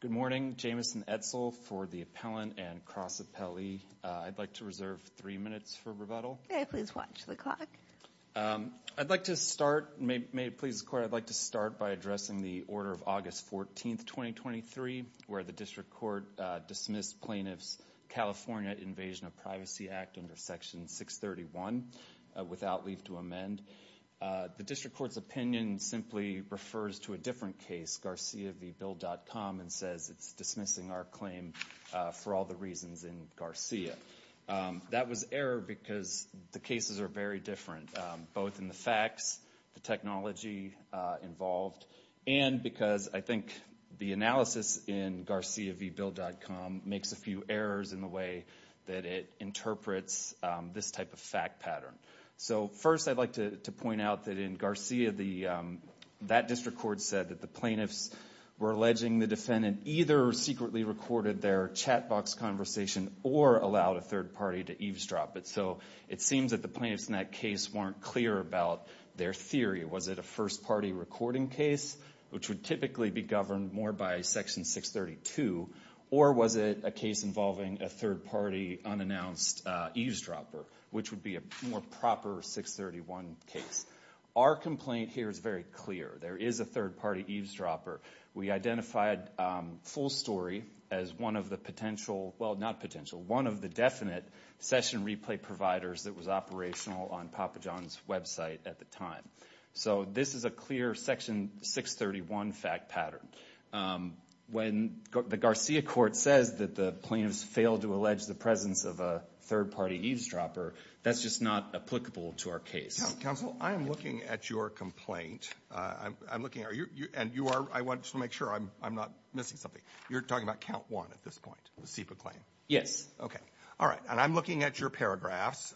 Good morning, Jamison Edsel for the appellant and cross appellee. I'd like to reserve three minutes for rebuttal. Please watch the clock. I'd like to start, may it please the court, I'd like to start by addressing the order of August 14th, 2023, where the district court dismissed plaintiff's California Invasion of Privacy Act under Section 631 without leave to amend. The district court's opinion simply refers to a different case, Garcia v. Bill.com, and says it's dismissing our claim for all the reasons in Garcia. That was error because the cases are very different, both in the facts, the technology involved, and because I think the analysis in Garcia v. Bill.com makes a few errors in the way that it interprets this type of fact pattern. So first I'd like to point out that in Garcia, that district court said that the plaintiffs were alleging the defendant either secretly recorded their chat box conversation or allowed a third party to eavesdrop it. So it seems that the plaintiffs in that case weren't clear about their theory. Was it a first party recording case, which would typically be governed more by Section 632, or was it a case involving a third party unannounced eavesdropper, which would be a more proper 631 case? Our complaint here is very clear. There is a third party eavesdropper. We identified Full Story as one of the potential, well not potential, one of the definite session replay providers that was operational on Papa John's website at the time. So this is a clear Section 631 fact pattern. When the Garcia court says that the plaintiffs failed to allege the presence of a third party eavesdropper, that's just not applicable to our case. Counsel, I am looking at your complaint. I'm looking at you and you are. I want to make sure I'm not missing something. You're talking about count one at this point, the SIPA claim. Yes. OK. All right. And I'm looking at your paragraphs.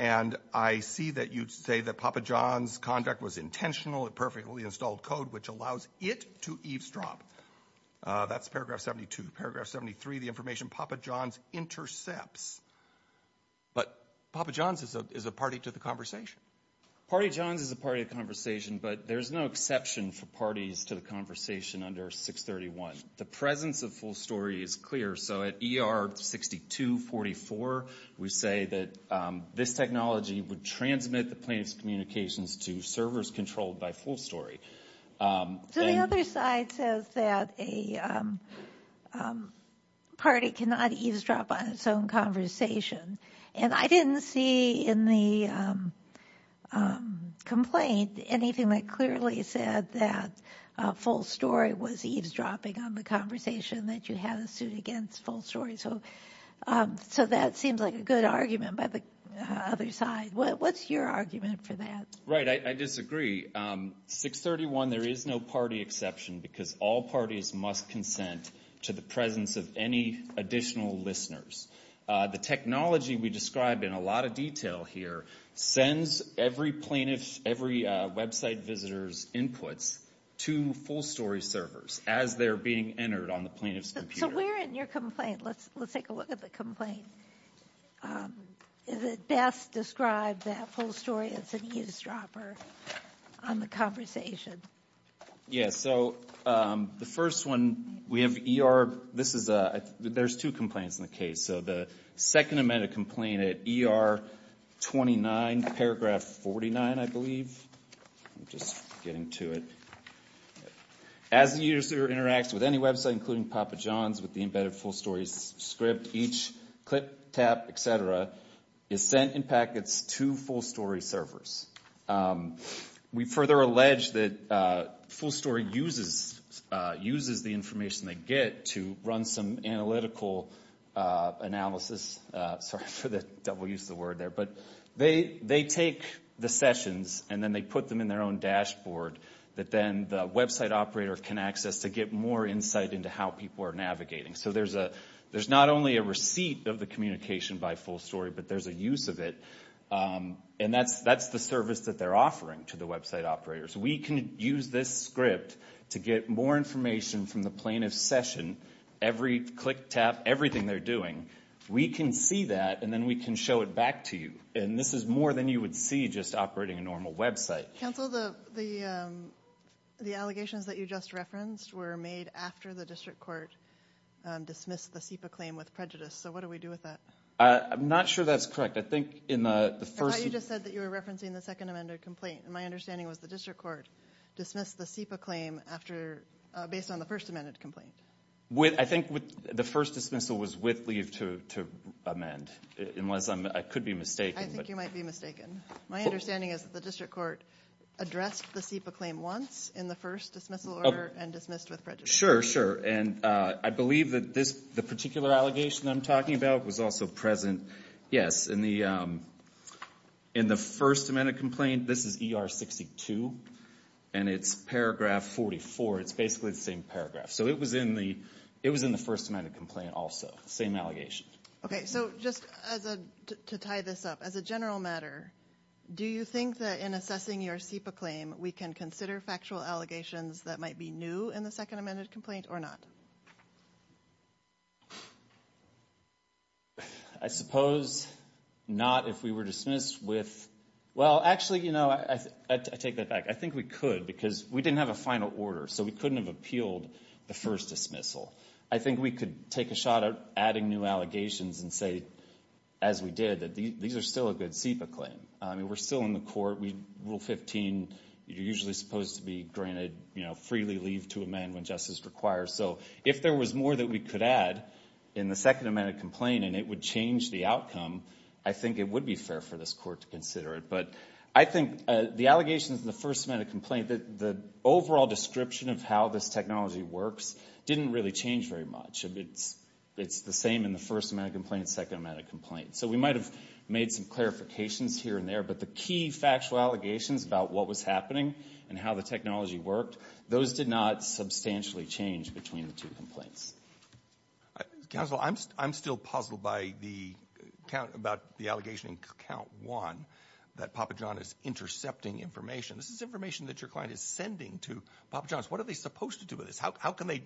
And I see that you say that Papa John's conduct was intentional. It perfectly installed code, which allows it to eavesdrop. That's paragraph 72. Paragraph 73, the information Papa John's intercepts. But Papa John's is a party to the conversation. Party John's is a party to the conversation, but there's no exception for parties to the conversation under 631. The presence of Full Story is clear. So at ER 6244, we say that this technology would transmit the plaintiff's communications to servers controlled by Full Story. So the other side says that a party cannot eavesdrop on its own conversation. And I didn't see in the complaint anything that clearly said that Full Story was eavesdropping on the conversation that you had a suit against Full Story. So so that seems like a good argument by the other side. What's your argument for that? I disagree. 631, there is no party exception because all parties must consent to the presence of any additional listeners. The technology we describe in a lot of detail here sends every plaintiff's, every website visitor's inputs to Full Story servers as they're being entered on the plaintiff's computer. So where in your complaint, let's let's take a look at the complaint, is it best described that Full Story is an eavesdropper on the conversation? Yeah, so the first one, we have ER, this is a there's two complaints in the case. So the second amended complaint at ER 29, paragraph 49, I believe, just getting to it. As the user interacts with any website, including Papa John's, with the embedded Full Story's script, each click, tap, et cetera, is sent in packets to Full Story servers. We further allege that Full Story uses the information they get to run some analytical analysis, sorry for the double use of the word there, but they take the sessions and then they put them in their own dashboard that then the website operator can access to get more insight into how people are navigating. So there's a there's not only a receipt of the communication by Full Story, but there's a use of it. And that's that's the service that they're offering to the website operators. We can use this script to get more information from the plaintiff's session, every click, tap, everything they're doing. We can see that and then we can show it back to you. And this is more than you would see just operating a normal website. Counsel, the the the allegations that you just referenced were made after the district court dismissed the SEPA claim with prejudice. So what do we do with that? I'm not sure that's correct. I think in the first you just said that you were referencing the second amended complaint. And my understanding was the district court dismissed the SEPA claim after based on the first amended complaint. With I think with the first dismissal was with leave to to amend unless I could be mistaken. I think you might be mistaken. My understanding is the district court addressed the SEPA claim once in the first dismissal order and dismissed with prejudice. Sure, sure. And I believe that this the particular allegation I'm talking about was also present. Yes. In the in the first amended complaint, this is ER 62 and it's paragraph 44. It's basically the same paragraph. So it was in the it was in the first amended complaint. Also, same allegation. OK, so just to tie this up as a general matter, do you think that in assessing your SEPA claim, we can consider factual allegations that might be new in the second amended complaint or not? I suppose not if we were dismissed with well, actually, you know, I take that back. I think we could because we didn't have a final order, so we couldn't have appealed the first dismissal. I think we could take a shot at adding new allegations and say, as we did, that these are still a good SEPA claim. I mean, we're still in the court. We rule 15, you're usually supposed to be granted, you know, freely leave to amend when justice requires. So if there was more that we could add in the second amended complaint and it would change the outcome, I think it would be fair for this court to consider it. But I think the allegations in the first amended complaint, the overall description of how this technology works didn't really change very much. It's the same in the first amended complaint, second amended complaint. So we might have made some clarifications here and there, but the key factual allegations about what was happening and how the technology worked, those did not substantially change between the two complaints. Counsel, I'm still puzzled by the count about the allegation in count one that Papa John is intercepting information. This is information that your client is sending to Papa John's. What are they supposed to do with this? How can they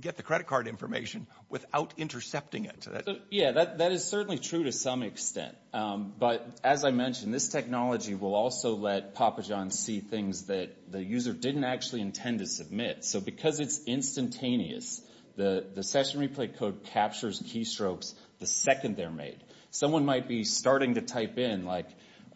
get the credit card information without intercepting it? Yeah, that is certainly true to some extent. But as I mentioned, this technology will also let Papa John's see things that the user didn't actually intend to submit. So because it's instantaneous, the session replay code captures keystrokes the second they're made. Someone might be starting to type in like,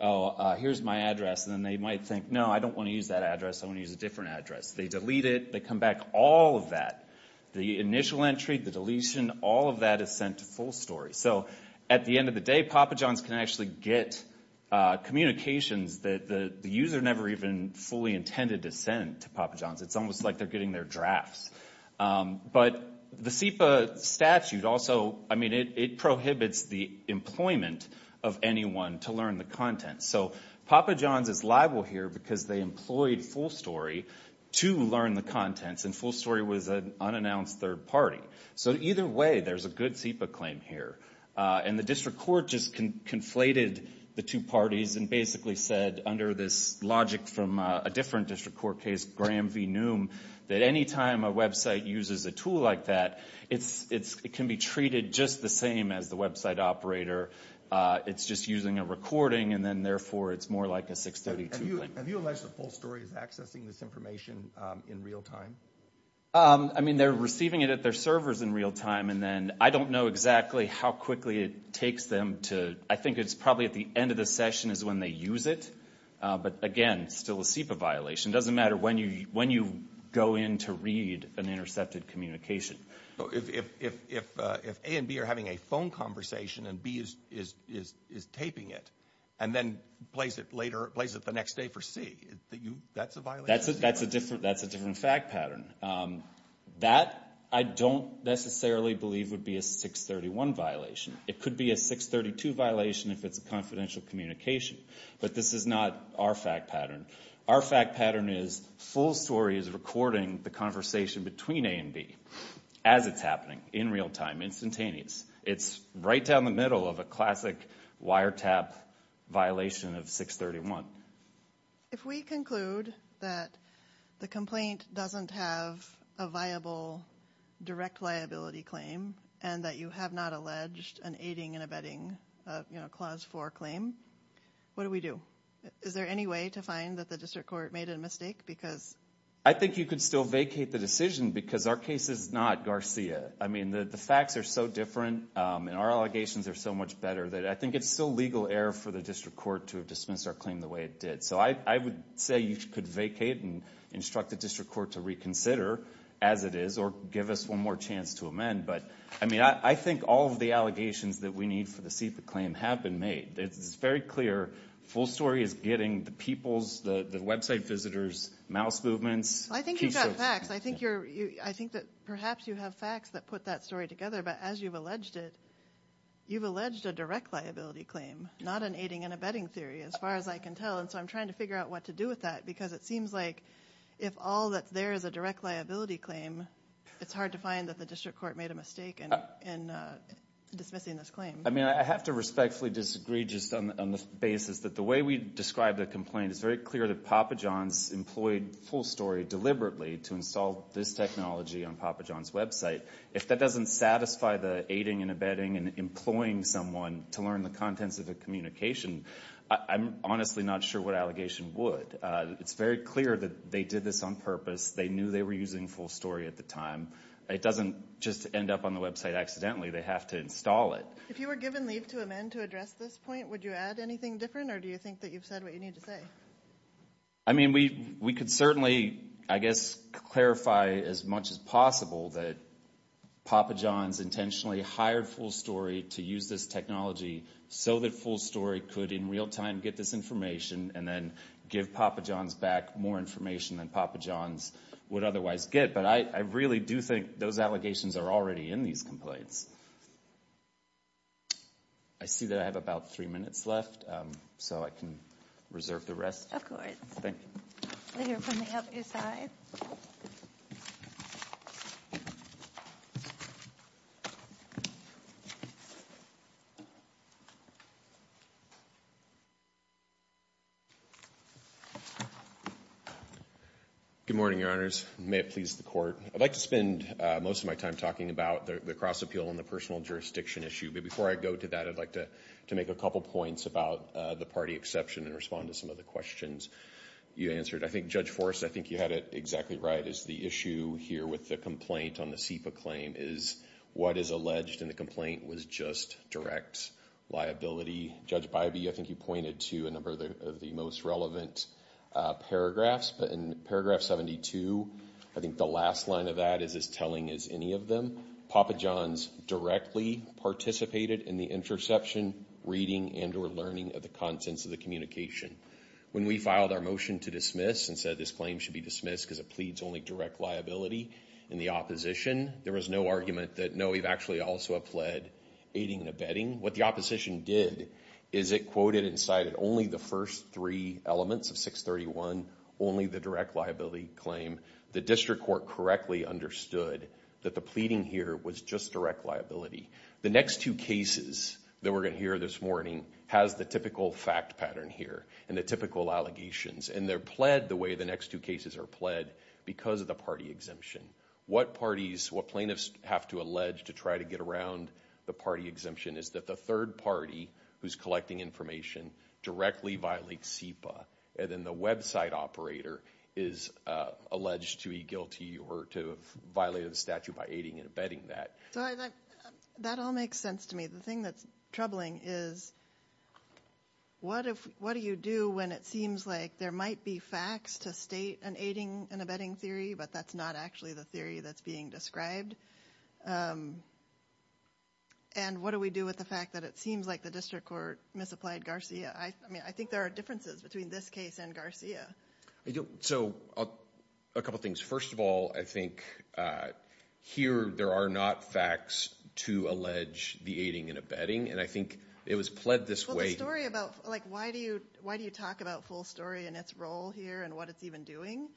oh, here's my address, and then they might think, no, I don't want to use that address, I want to use a different address. They delete it, they come back, all of that, the initial entry, the deletion, all of that is sent to full story. So at the end of the day, Papa John's can actually get communications that the user never even fully intended to send to Papa John's. It's almost like they're getting their drafts. But the SEPA statute also, I mean, it prohibits the employment of anyone to learn the content. So Papa John's is liable here because they employed full story to learn the contents, and full story was an unannounced third party. So either way, there's a good SEPA claim here. And the district court just conflated the two parties and basically said under this logic from a different district court case, Graham v. Noom, that any time a website uses a tool like that, it can be treated just the same as the website operator. It's just using a recording, and then therefore it's more like a 632 link. Have you alleged that full story is accessing this information in real time? I mean, they're receiving it at their servers in real time, and then I don't know exactly how quickly it takes them to, I think it's probably at the end of the session is when they use it. But again, still a SEPA violation. It doesn't matter when you go in to read an intercepted communication. If A and B are having a phone conversation and B is taping it, and then plays it later, plays it the next day for C, that's a violation? That's a different fact pattern. That I don't necessarily believe would be a 631 violation. It could be a 632 violation if it's a confidential communication. But this is not our fact pattern. Our fact pattern is full story is recording the conversation between A and B as it's happening in real time, instantaneous. It's right down the middle of a classic wiretap violation of 631. If we conclude that the complaint doesn't have a viable direct liability claim, and that you have not alleged an aiding and abetting Clause 4 claim, what do we do? Is there any way to find that the district court made a mistake? I think you could still vacate the decision because our case is not Garcia. I mean, the facts are so different and our allegations are so much better that I think it's still legal error for the district court to have dismissed our claim the way it did. So I would say you could vacate and instruct the district court to reconsider, as it is, or give us one more chance to amend. But, I mean, I think all of the allegations that we need for the CIPA claim have been made. It's very clear full story is getting the people's, the website visitors' mouse movements. I think you've got facts. I think that perhaps you have facts that put that story together. But as you've alleged it, you've alleged a direct liability claim, not an aiding and abetting theory, as far as I can tell. And so I'm trying to figure out what to do with that because it seems like if all that's there is a direct liability claim, it's hard to find that the district court made a mistake in dismissing this claim. I mean, I have to respectfully disagree just on the basis that the way we describe the complaint, it's very clear that Papa John's employed full story deliberately to install this technology on Papa John's website. If that doesn't satisfy the aiding and abetting and employing someone to learn the contents of the communication, I'm honestly not sure what allegation would. It's very clear that they did this on purpose. They knew they were using full story at the time. It doesn't just end up on the website accidentally. They have to install it. If you were given leave to amend to address this point, would you add anything different, or do you think that you've said what you need to say? I mean, we could certainly, I guess, clarify as much as possible that Papa John's intentionally hired full story to use this technology so that full story could in real time get this information and then give Papa John's back more information than Papa John's would otherwise get. But I really do think those allegations are already in these complaints. I see that I have about three minutes left, so I can reserve the rest. Of course. Thank you. We'll hear from the healthier side. Good morning, Your Honors. May it please the Court. I'd like to spend most of my time talking about the cross appeal and the personal jurisdiction issue. But before I go to that, I'd like to make a couple points about the party exception and respond to some of the questions you answered. I think Judge Forrest, I think you had it exactly right, is the issue here with the complaint on the SEPA claim is what is alleged in the complaint was just direct liability. Judge Bybee, I think you pointed to a number of the most relevant paragraphs. But in paragraph 72, I think the last line of that is as telling as any of them. Papa John's directly participated in the interception, reading, and or learning of the contents of the communication. When we filed our motion to dismiss and said this claim should be dismissed because it pleads only direct liability in the opposition, there was no argument that no, we've actually also pled aiding and abetting. What the opposition did is it quoted and cited only the first three elements of 631, only the direct liability claim. The district court correctly understood that the pleading here was just direct liability. The next two cases that we're going to hear this morning has the typical fact pattern here and the typical allegations. And they're pled the way the next two cases are pled because of the party exemption. What parties, what plaintiffs have to allege to try to get around the party exemption is that the third party who's collecting information directly violates SEPA. And then the website operator is alleged to be guilty or to have violated the statute by aiding and abetting that. That all makes sense to me. The thing that's troubling is what do you do when it seems like there might be facts to state an aiding and abetting theory, but that's not actually the theory that's being described? And what do we do with the fact that it seems like the district court misapplied Garcia? I mean, I think there are differences between this case and Garcia. So a couple things. First of all, I think here there are not facts to allege the aiding and abetting, and I think it was pled this way. Why do you talk about full story and its role here and what it's even doing?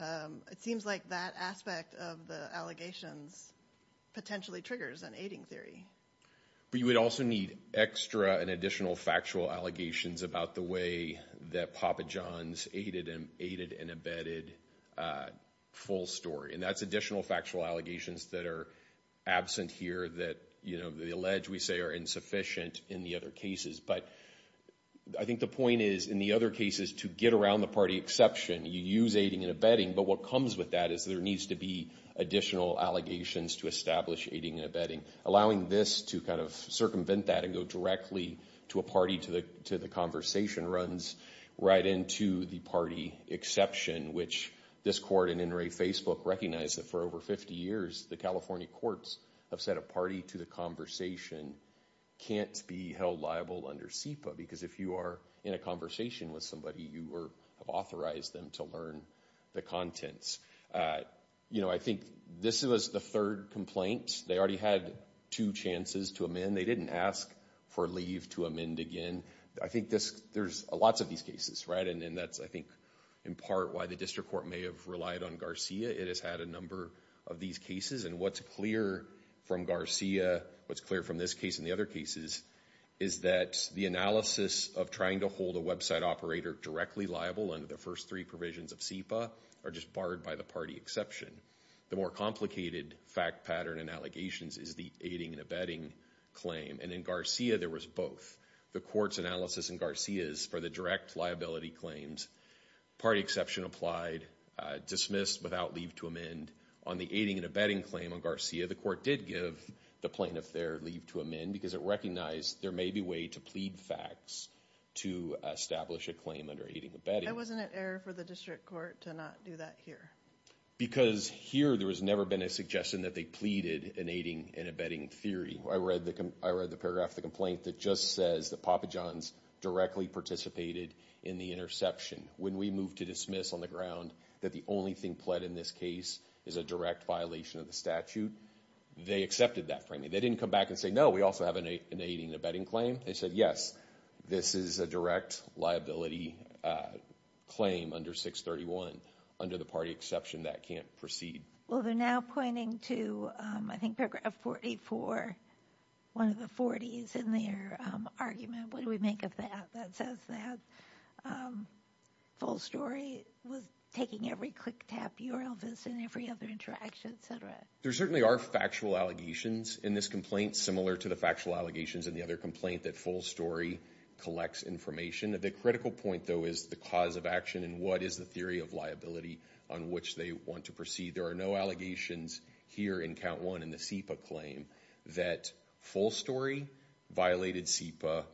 It seems like that aspect of the allegations potentially triggers an aiding theory. But you would also need extra and additional factual allegations about the way that Papa John's aided and abetted full story. And that's additional factual allegations that are absent here that they allege we say are insufficient in the other cases. But I think the point is in the other cases to get around the party exception, you use aiding and abetting, but what comes with that is there needs to be additional allegations to establish aiding and abetting. Allowing this to kind of circumvent that and go directly to a party to the conversation runs right into the party exception, which this court and NRA Facebook recognize that for over 50 years the California courts have said a party to the conversation can't be held liable under SEPA because if you are in a conversation with somebody you have authorized them to learn the contents. I think this was the third complaint. They already had two chances to amend. They didn't ask for leave to amend again. I think there's lots of these cases, right? And that's, I think, in part why the district court may have relied on Garcia. It has had a number of these cases. And what's clear from Garcia, what's clear from this case and the other cases, is that the analysis of trying to hold a website operator directly liable under the first three provisions of SEPA are just barred by the party exception. The more complicated fact pattern and allegations is the aiding and abetting claim. And in Garcia there was both. The court's analysis in Garcia is for the direct liability claims. Party exception applied. Dismissed without leave to amend. On the aiding and abetting claim on Garcia, the court did give the plaintiff there leave to amend because it recognized there may be a way to plead facts to establish a claim under aiding and abetting. It wasn't an error for the district court to not do that here. Because here there has never been a suggestion that they pleaded in aiding and abetting theory. I read the paragraph of the complaint that just says that Papa John's directly participated in the interception. When we moved to dismiss on the ground that the only thing pled in this case is a direct violation of the statute, they accepted that for me. They didn't come back and say, no, we also have an aiding and abetting claim. They said, yes, this is a direct liability claim under 631 under the party exception that can't proceed. Well, they're now pointing to, I think, paragraph 44, one of the 40s in their argument. What do we make of that? That says that Full Story was taking every click-tap URL that's in every other interaction, et cetera. There certainly are factual allegations in this complaint, similar to the factual allegations in the other complaint that Full Story collects information. The critical point, though, is the cause of action and what is the theory of liability on which they want to proceed. There are no allegations here in count one in the SEPA claim that Full Story violated SEPA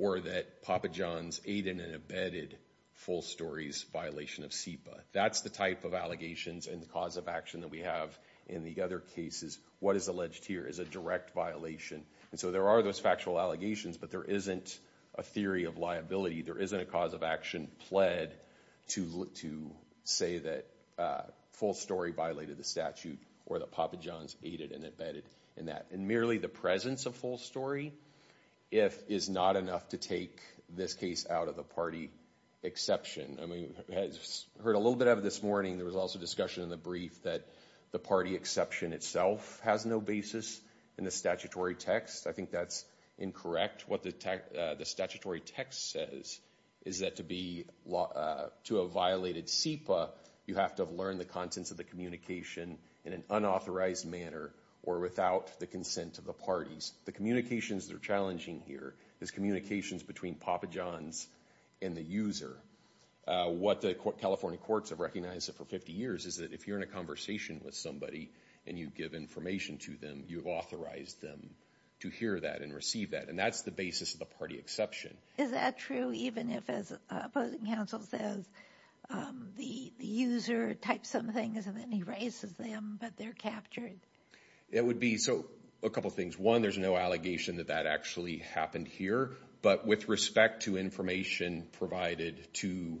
or that Papa John's aided and abetted Full Story's violation of SEPA. That's the type of allegations and the cause of action that we have in the other cases. What is alleged here is a direct violation. And so there are those factual allegations, but there isn't a theory of liability. There isn't a cause of action pled to say that Full Story violated the statute or that Papa John's aided and abetted in that. And merely the presence of Full Story is not enough to take this case out of the party exception. I heard a little bit of it this morning. There was also discussion in the brief that the party exception itself has no basis in the statutory text. I think that's incorrect. What the statutory text says is that to have violated SEPA, you have to have learned the contents of the communication in an unauthorized manner or without the consent of the parties. The communications that are challenging here is communications between Papa John's and the user. What the California courts have recognized for 50 years is that if you're in a conversation with somebody and you give information to them, you've authorized them to hear that and receive that. And that's the basis of the party exception. Is that true even if, as opposing counsel says, the user types some things and then erases them but they're captured? It would be. So a couple things. One, there's no allegation that that actually happened here. But with respect to information provided to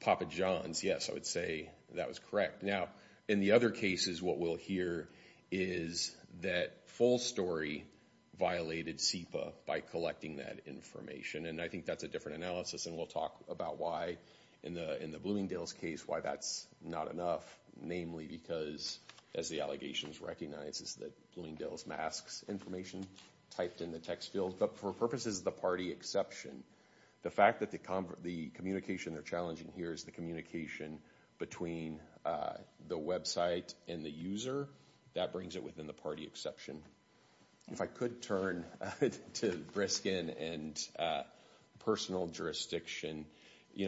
Papa John's, yes, I would say that was correct. Now, in the other cases, what we'll hear is that Full Story violated SEPA by collecting that information. And I think that's a different analysis. And we'll talk about why, in the Bloomingdale's case, why that's not enough, namely because, as the allegations recognize, is that Bloomingdale's masks information typed in the text field. But for purposes of the party exception, the fact that the communication they're challenging here is the communication between the website and the user, that brings it within the party exception. If I could turn to Briskin and personal jurisdiction,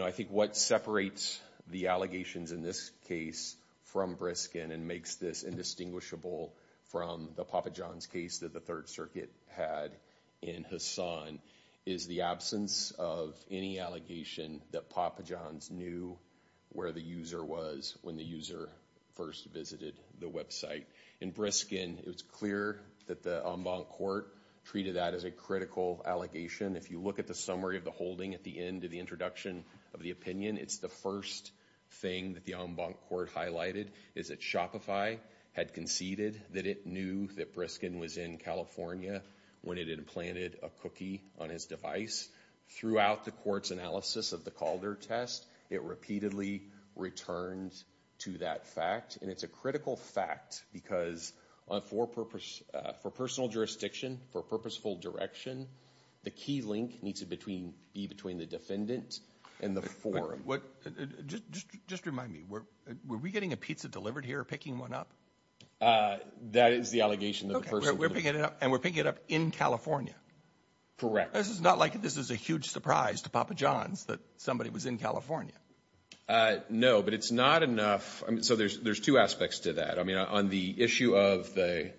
I think what separates the allegations in this case from Briskin and makes this indistinguishable from the Papa John's case that the Third Circuit had in Hassan is the absence of any allegation that Papa John's knew where the user was when the user first visited the website. In Briskin, it was clear that the en banc court treated that as a critical allegation. If you look at the summary of the holding at the end of the introduction of the opinion, it's the first thing that the en banc court highlighted, is that Shopify had conceded that it knew that Briskin was in California when it had implanted a cookie on his device. Throughout the court's analysis of the Calder test, it repeatedly returned to that fact. And it's a critical fact because for personal jurisdiction, for purposeful direction, the key link needs to be between the defendant and the forum. Just remind me, were we getting a pizza delivered here or picking one up? That is the allegation. And we're picking it up in California? Correct. This is not like this is a huge surprise to Papa John's that somebody was in California. No, but it's not enough. So there's two aspects to that. I mean, on the issue of the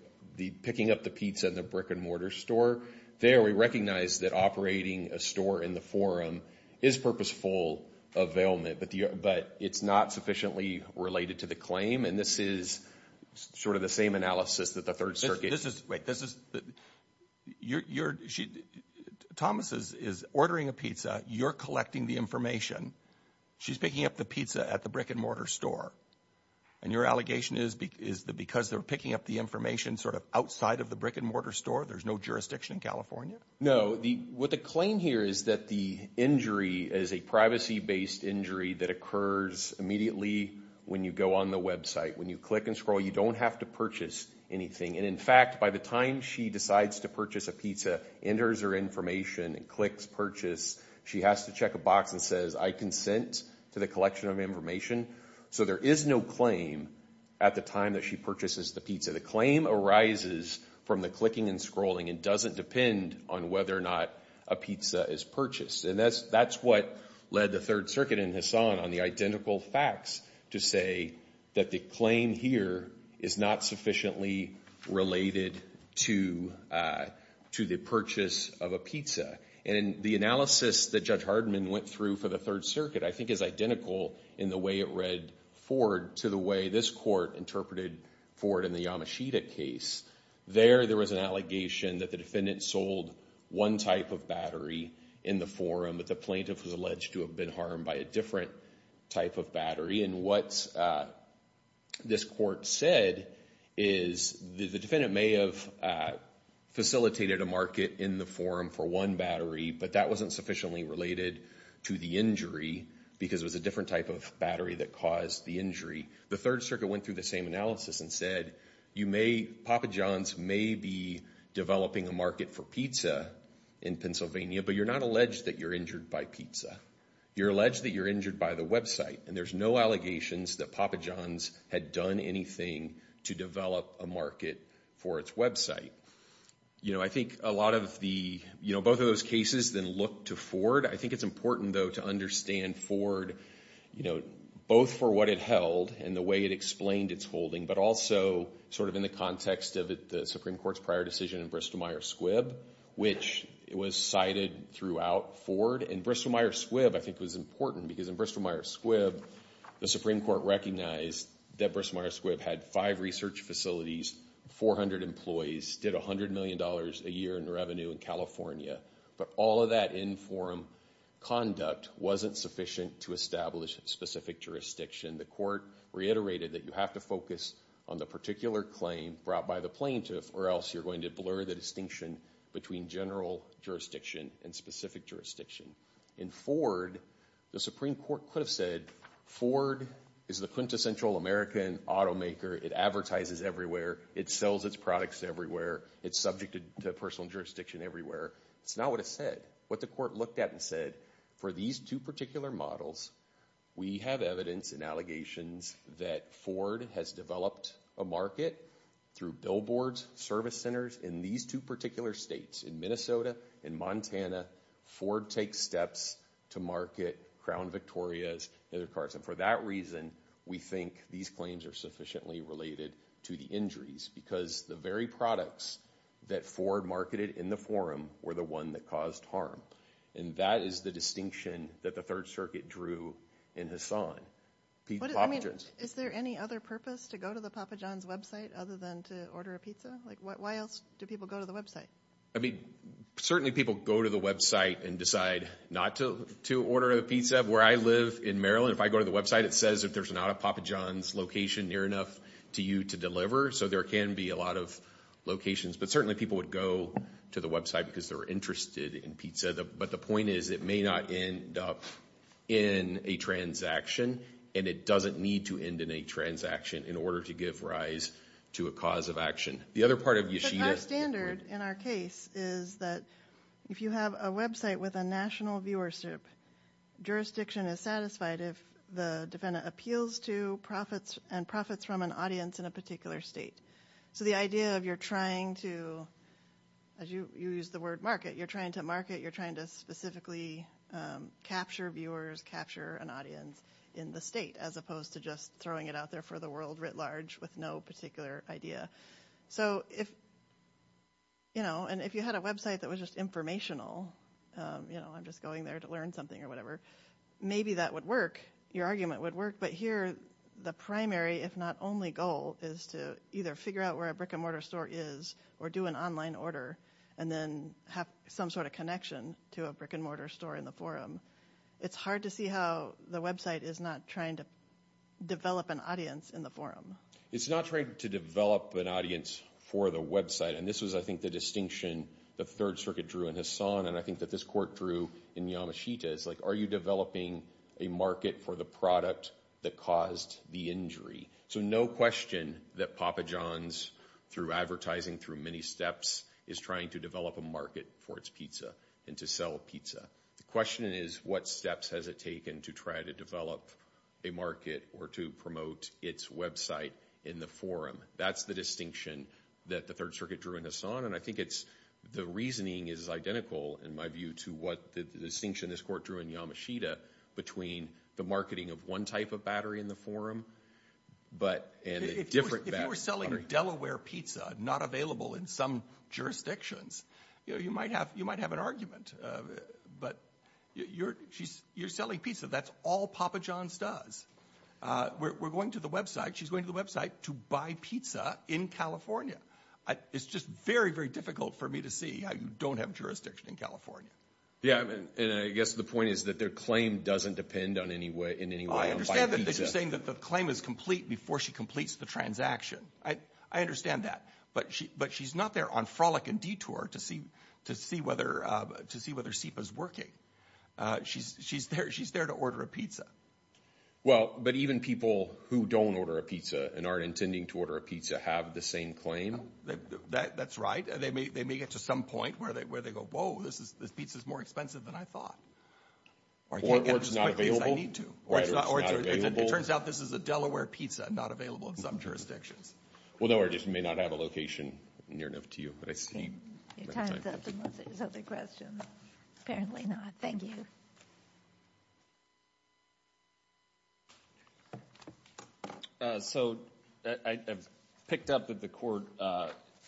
picking up the pizza in the brick-and-mortar store, there we recognize that operating a store in the forum is purposeful availment, but it's not sufficiently related to the claim. And this is sort of the same analysis that the Third Circuit— Wait, this is—Thomas is ordering a pizza. You're collecting the information. She's picking up the pizza at the brick-and-mortar store. And your allegation is that because they're picking up the information sort of outside of the brick-and-mortar store, there's no jurisdiction in California? No. What the claim here is that the injury is a privacy-based injury that occurs immediately when you go on the website. When you click and scroll, you don't have to purchase anything. And, in fact, by the time she decides to purchase a pizza, enters her information and clicks Purchase, she has to check a box that says, I consent to the collection of information. So there is no claim at the time that she purchases the pizza. The claim arises from the clicking and scrolling and doesn't depend on whether or not a pizza is purchased. And that's what led the Third Circuit and Hasan on the identical facts to say that the claim here is not sufficiently related to the purchase of a pizza. And the analysis that Judge Hardeman went through for the Third Circuit, I think, is identical in the way it read forward to the way this court interpreted forward in the Yamashita case. There, there was an allegation that the defendant sold one type of battery in the forum, but the plaintiff was alleged to have been harmed by a different type of battery. And what this court said is the defendant may have facilitated a market in the forum for one battery, but that wasn't sufficiently related to the injury because it was a different type of battery that caused the injury. The Third Circuit went through the same analysis and said, you may, Papa John's may be developing a market for pizza in Pennsylvania, but you're not alleged that you're injured by pizza. You're alleged that you're injured by the website. And there's no allegations that Papa John's had done anything to develop a market for its website. You know, I think a lot of the, you know, both of those cases then look to Ford. I think it's important, though, to understand Ford, you know, both for what it held and the way it explained its holding, but also sort of in the context of the Supreme Court's prior decision in Bristol-Myers Squibb, which was cited throughout Ford. And Bristol-Myers Squibb, I think, was important because in Bristol-Myers Squibb, the Supreme Court recognized that Bristol-Myers Squibb had five research facilities, 400 employees, did $100 million a year in revenue in California. But all of that in forum conduct wasn't sufficient to establish specific jurisdiction. The court reiterated that you have to focus on the particular claim brought by the plaintiff or else you're going to blur the distinction between general jurisdiction and specific jurisdiction. In Ford, the Supreme Court could have said, Ford is the quintessential American automaker. It advertises everywhere. It sells its products everywhere. It's subject to personal jurisdiction everywhere. That's not what it said. What the court looked at and said, for these two particular models, we have evidence and allegations that Ford has developed a market through billboards, service centers. In these two particular states, in Minnesota, in Montana, Ford takes steps to market Crown Victorias and other cars. And for that reason, we think these claims are sufficiently related to the injuries because the very products that Ford marketed in the forum were the one that caused harm. And that is the distinction that the Third Circuit drew in Hassan. Is there any other purpose to go to the Papa John's website other than to order a pizza? Like, why else do people go to the website? I mean, certainly people go to the website and decide not to order a pizza. Where I live in Maryland, if I go to the website, it says if there's not a Papa John's location near enough to you to deliver. So there can be a lot of locations. But certainly people would go to the website because they're interested in pizza. But the point is, it may not end up in a transaction. And it doesn't need to end in a transaction in order to give rise to a cause of action. The other part of Yeshida. Our standard in our case is that if you have a website with a national viewership, jurisdiction is satisfied if the defendant appeals to profits and profits from an audience in a particular state. So the idea of you're trying to, as you use the word market, you're trying to market, you're trying to specifically capture viewers, capture an audience in the state, as opposed to just throwing it out there for the world writ large with no particular idea. So if, you know, and if you had a website that was just informational, you know, I'm just going there to learn something or whatever, maybe that would work. Your argument would work. But here the primary, if not only goal, is to either figure out where a brick and mortar store is or do an online order and then have some sort of connection to a brick and mortar store in the forum. It's hard to see how the website is not trying to develop an audience in the forum. It's not trying to develop an audience for the website. And this was, I think, the distinction the Third Circuit drew in Hassan and I think that this court drew in Yamashita. It's like are you developing a market for the product that caused the injury? So no question that Papa John's, through advertising, through many steps, is trying to develop a market for its pizza and to sell pizza. The question is what steps has it taken to try to develop a market or to promote its website in the forum? That's the distinction that the Third Circuit drew in Hassan and I think the reasoning is identical, in my view, to what the distinction this court drew in Yamashita between the marketing of one type of battery in the forum and a different battery. If you were selling Delaware pizza not available in some jurisdictions, you might have an argument, but you're selling pizza. That's all Papa John's does. We're going to the website. She's going to the website to buy pizza in California. It's just very, very difficult for me to see how you don't have jurisdiction in California. Yeah, and I guess the point is that their claim doesn't depend in any way on buying pizza. I understand that they're saying that the claim is complete before she completes the transaction. I understand that, but she's not there on frolic and detour to see whether SIPA is working. She's there to order a pizza. Well, but even people who don't order a pizza and aren't intending to order a pizza have the same claim? That's right. They may get to some point where they go, whoa, this pizza is more expensive than I thought. Or it's not available. Or I can't get it as quickly as I need to. It turns out this is a Delaware pizza not available in some jurisdictions. Well, Delaware just may not have a location near enough to you. Your time's up unless there's other questions. Apparently not. Thank you. So I've picked up that the court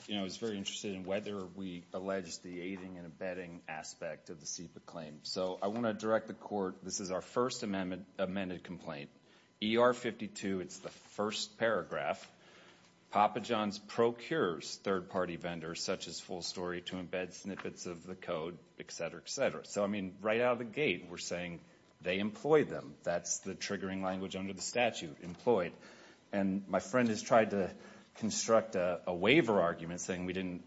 is very interested in whether we allege the aiding and abetting aspect of the SIPA claim. So I want to direct the court, this is our first amended complaint. ER-52, it's the first paragraph. Papa John's procures third-party vendors such as Full Story to embed snippets of the code, et cetera, et cetera. So, I mean, right out of the gate we're saying they employed them. That's the triggering language under the statute, employed. And my friend has tried to construct a waiver argument saying we didn't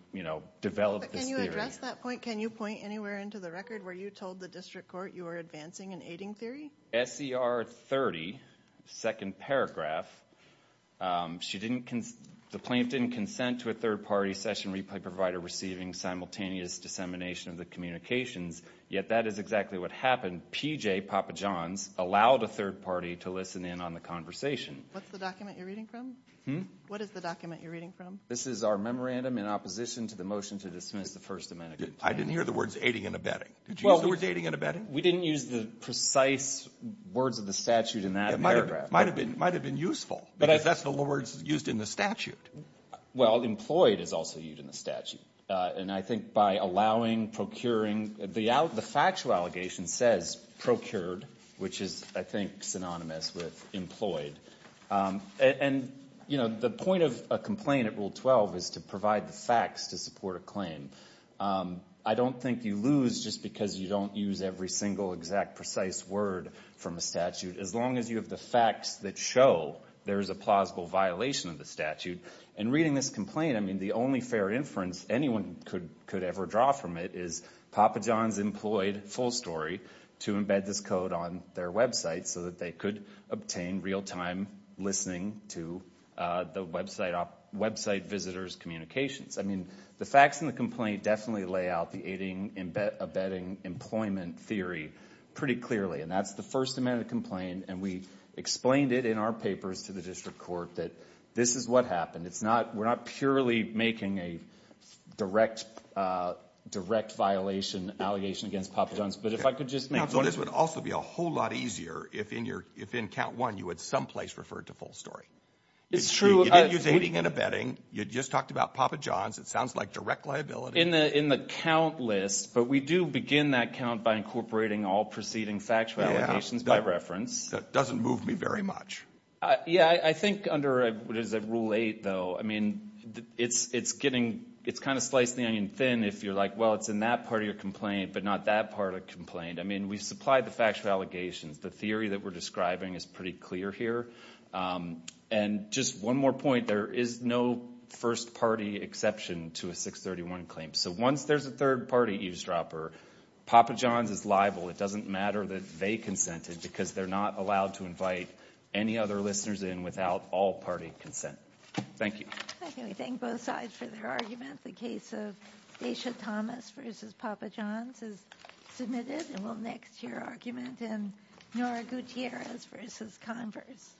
develop this theory. But can you address that point? Can you point anywhere into the record where you told the district court you were advancing an aiding theory? SER-30, second paragraph. The plaintiff didn't consent to a third-party session replay provider receiving simultaneous dissemination of the communications, yet that is exactly what happened. PJ, Papa John's, allowed a third party to listen in on the conversation. What's the document you're reading from? What is the document you're reading from? This is our memorandum in opposition to the motion to dismiss the First Amendment. I didn't hear the words aiding and abetting. Did you use the words aiding and abetting? We didn't use the precise words of the statute in that paragraph. It might have been useful, because that's the words used in the statute. Well, employed is also used in the statute. And I think by allowing, procuring, the factual allegation says procured, which is, I think, synonymous with employed. And, you know, the point of a complaint at Rule 12 is to provide the facts to support a claim. I don't think you lose just because you don't use every single exact precise word from a statute, as long as you have the facts that show there is a plausible violation of the statute. In reading this complaint, I mean, the only fair inference anyone could ever draw from it is, Papa John's employed Full Story to embed this code on their website so that they could obtain real-time listening to the website visitors' communications. I mean, the facts in the complaint definitely lay out the aiding, abetting, employment theory pretty clearly. And that's the first amendment of the complaint. And we explained it in our papers to the district court that this is what happened. We're not purely making a direct violation, allegation against Papa John's. But if I could just make one point. Counsel, this would also be a whole lot easier if in count one you had someplace referred to Full Story. It's true. You didn't use aiding and abetting. You just talked about Papa John's. It sounds like direct liability. In the count list, but we do begin that count by incorporating all preceding factual allegations by reference. That doesn't move me very much. Yeah, I think under Rule 8, though, I mean, it's kind of slicing the onion thin if you're like, well, it's in that part of your complaint but not that part of the complaint. I mean, we supplied the factual allegations. The theory that we're describing is pretty clear here. And just one more point. There is no first-party exception to a 631 claim. So once there's a third-party eavesdropper, Papa John's is liable. It doesn't matter that they consented because they're not allowed to invite any other listeners in without all-party consent. Thank you. Okay, we thank both sides for their argument. The case of Daisha Thomas v. Papa John's is submitted. And we'll next hear argument in Nora Gutierrez v. Converse.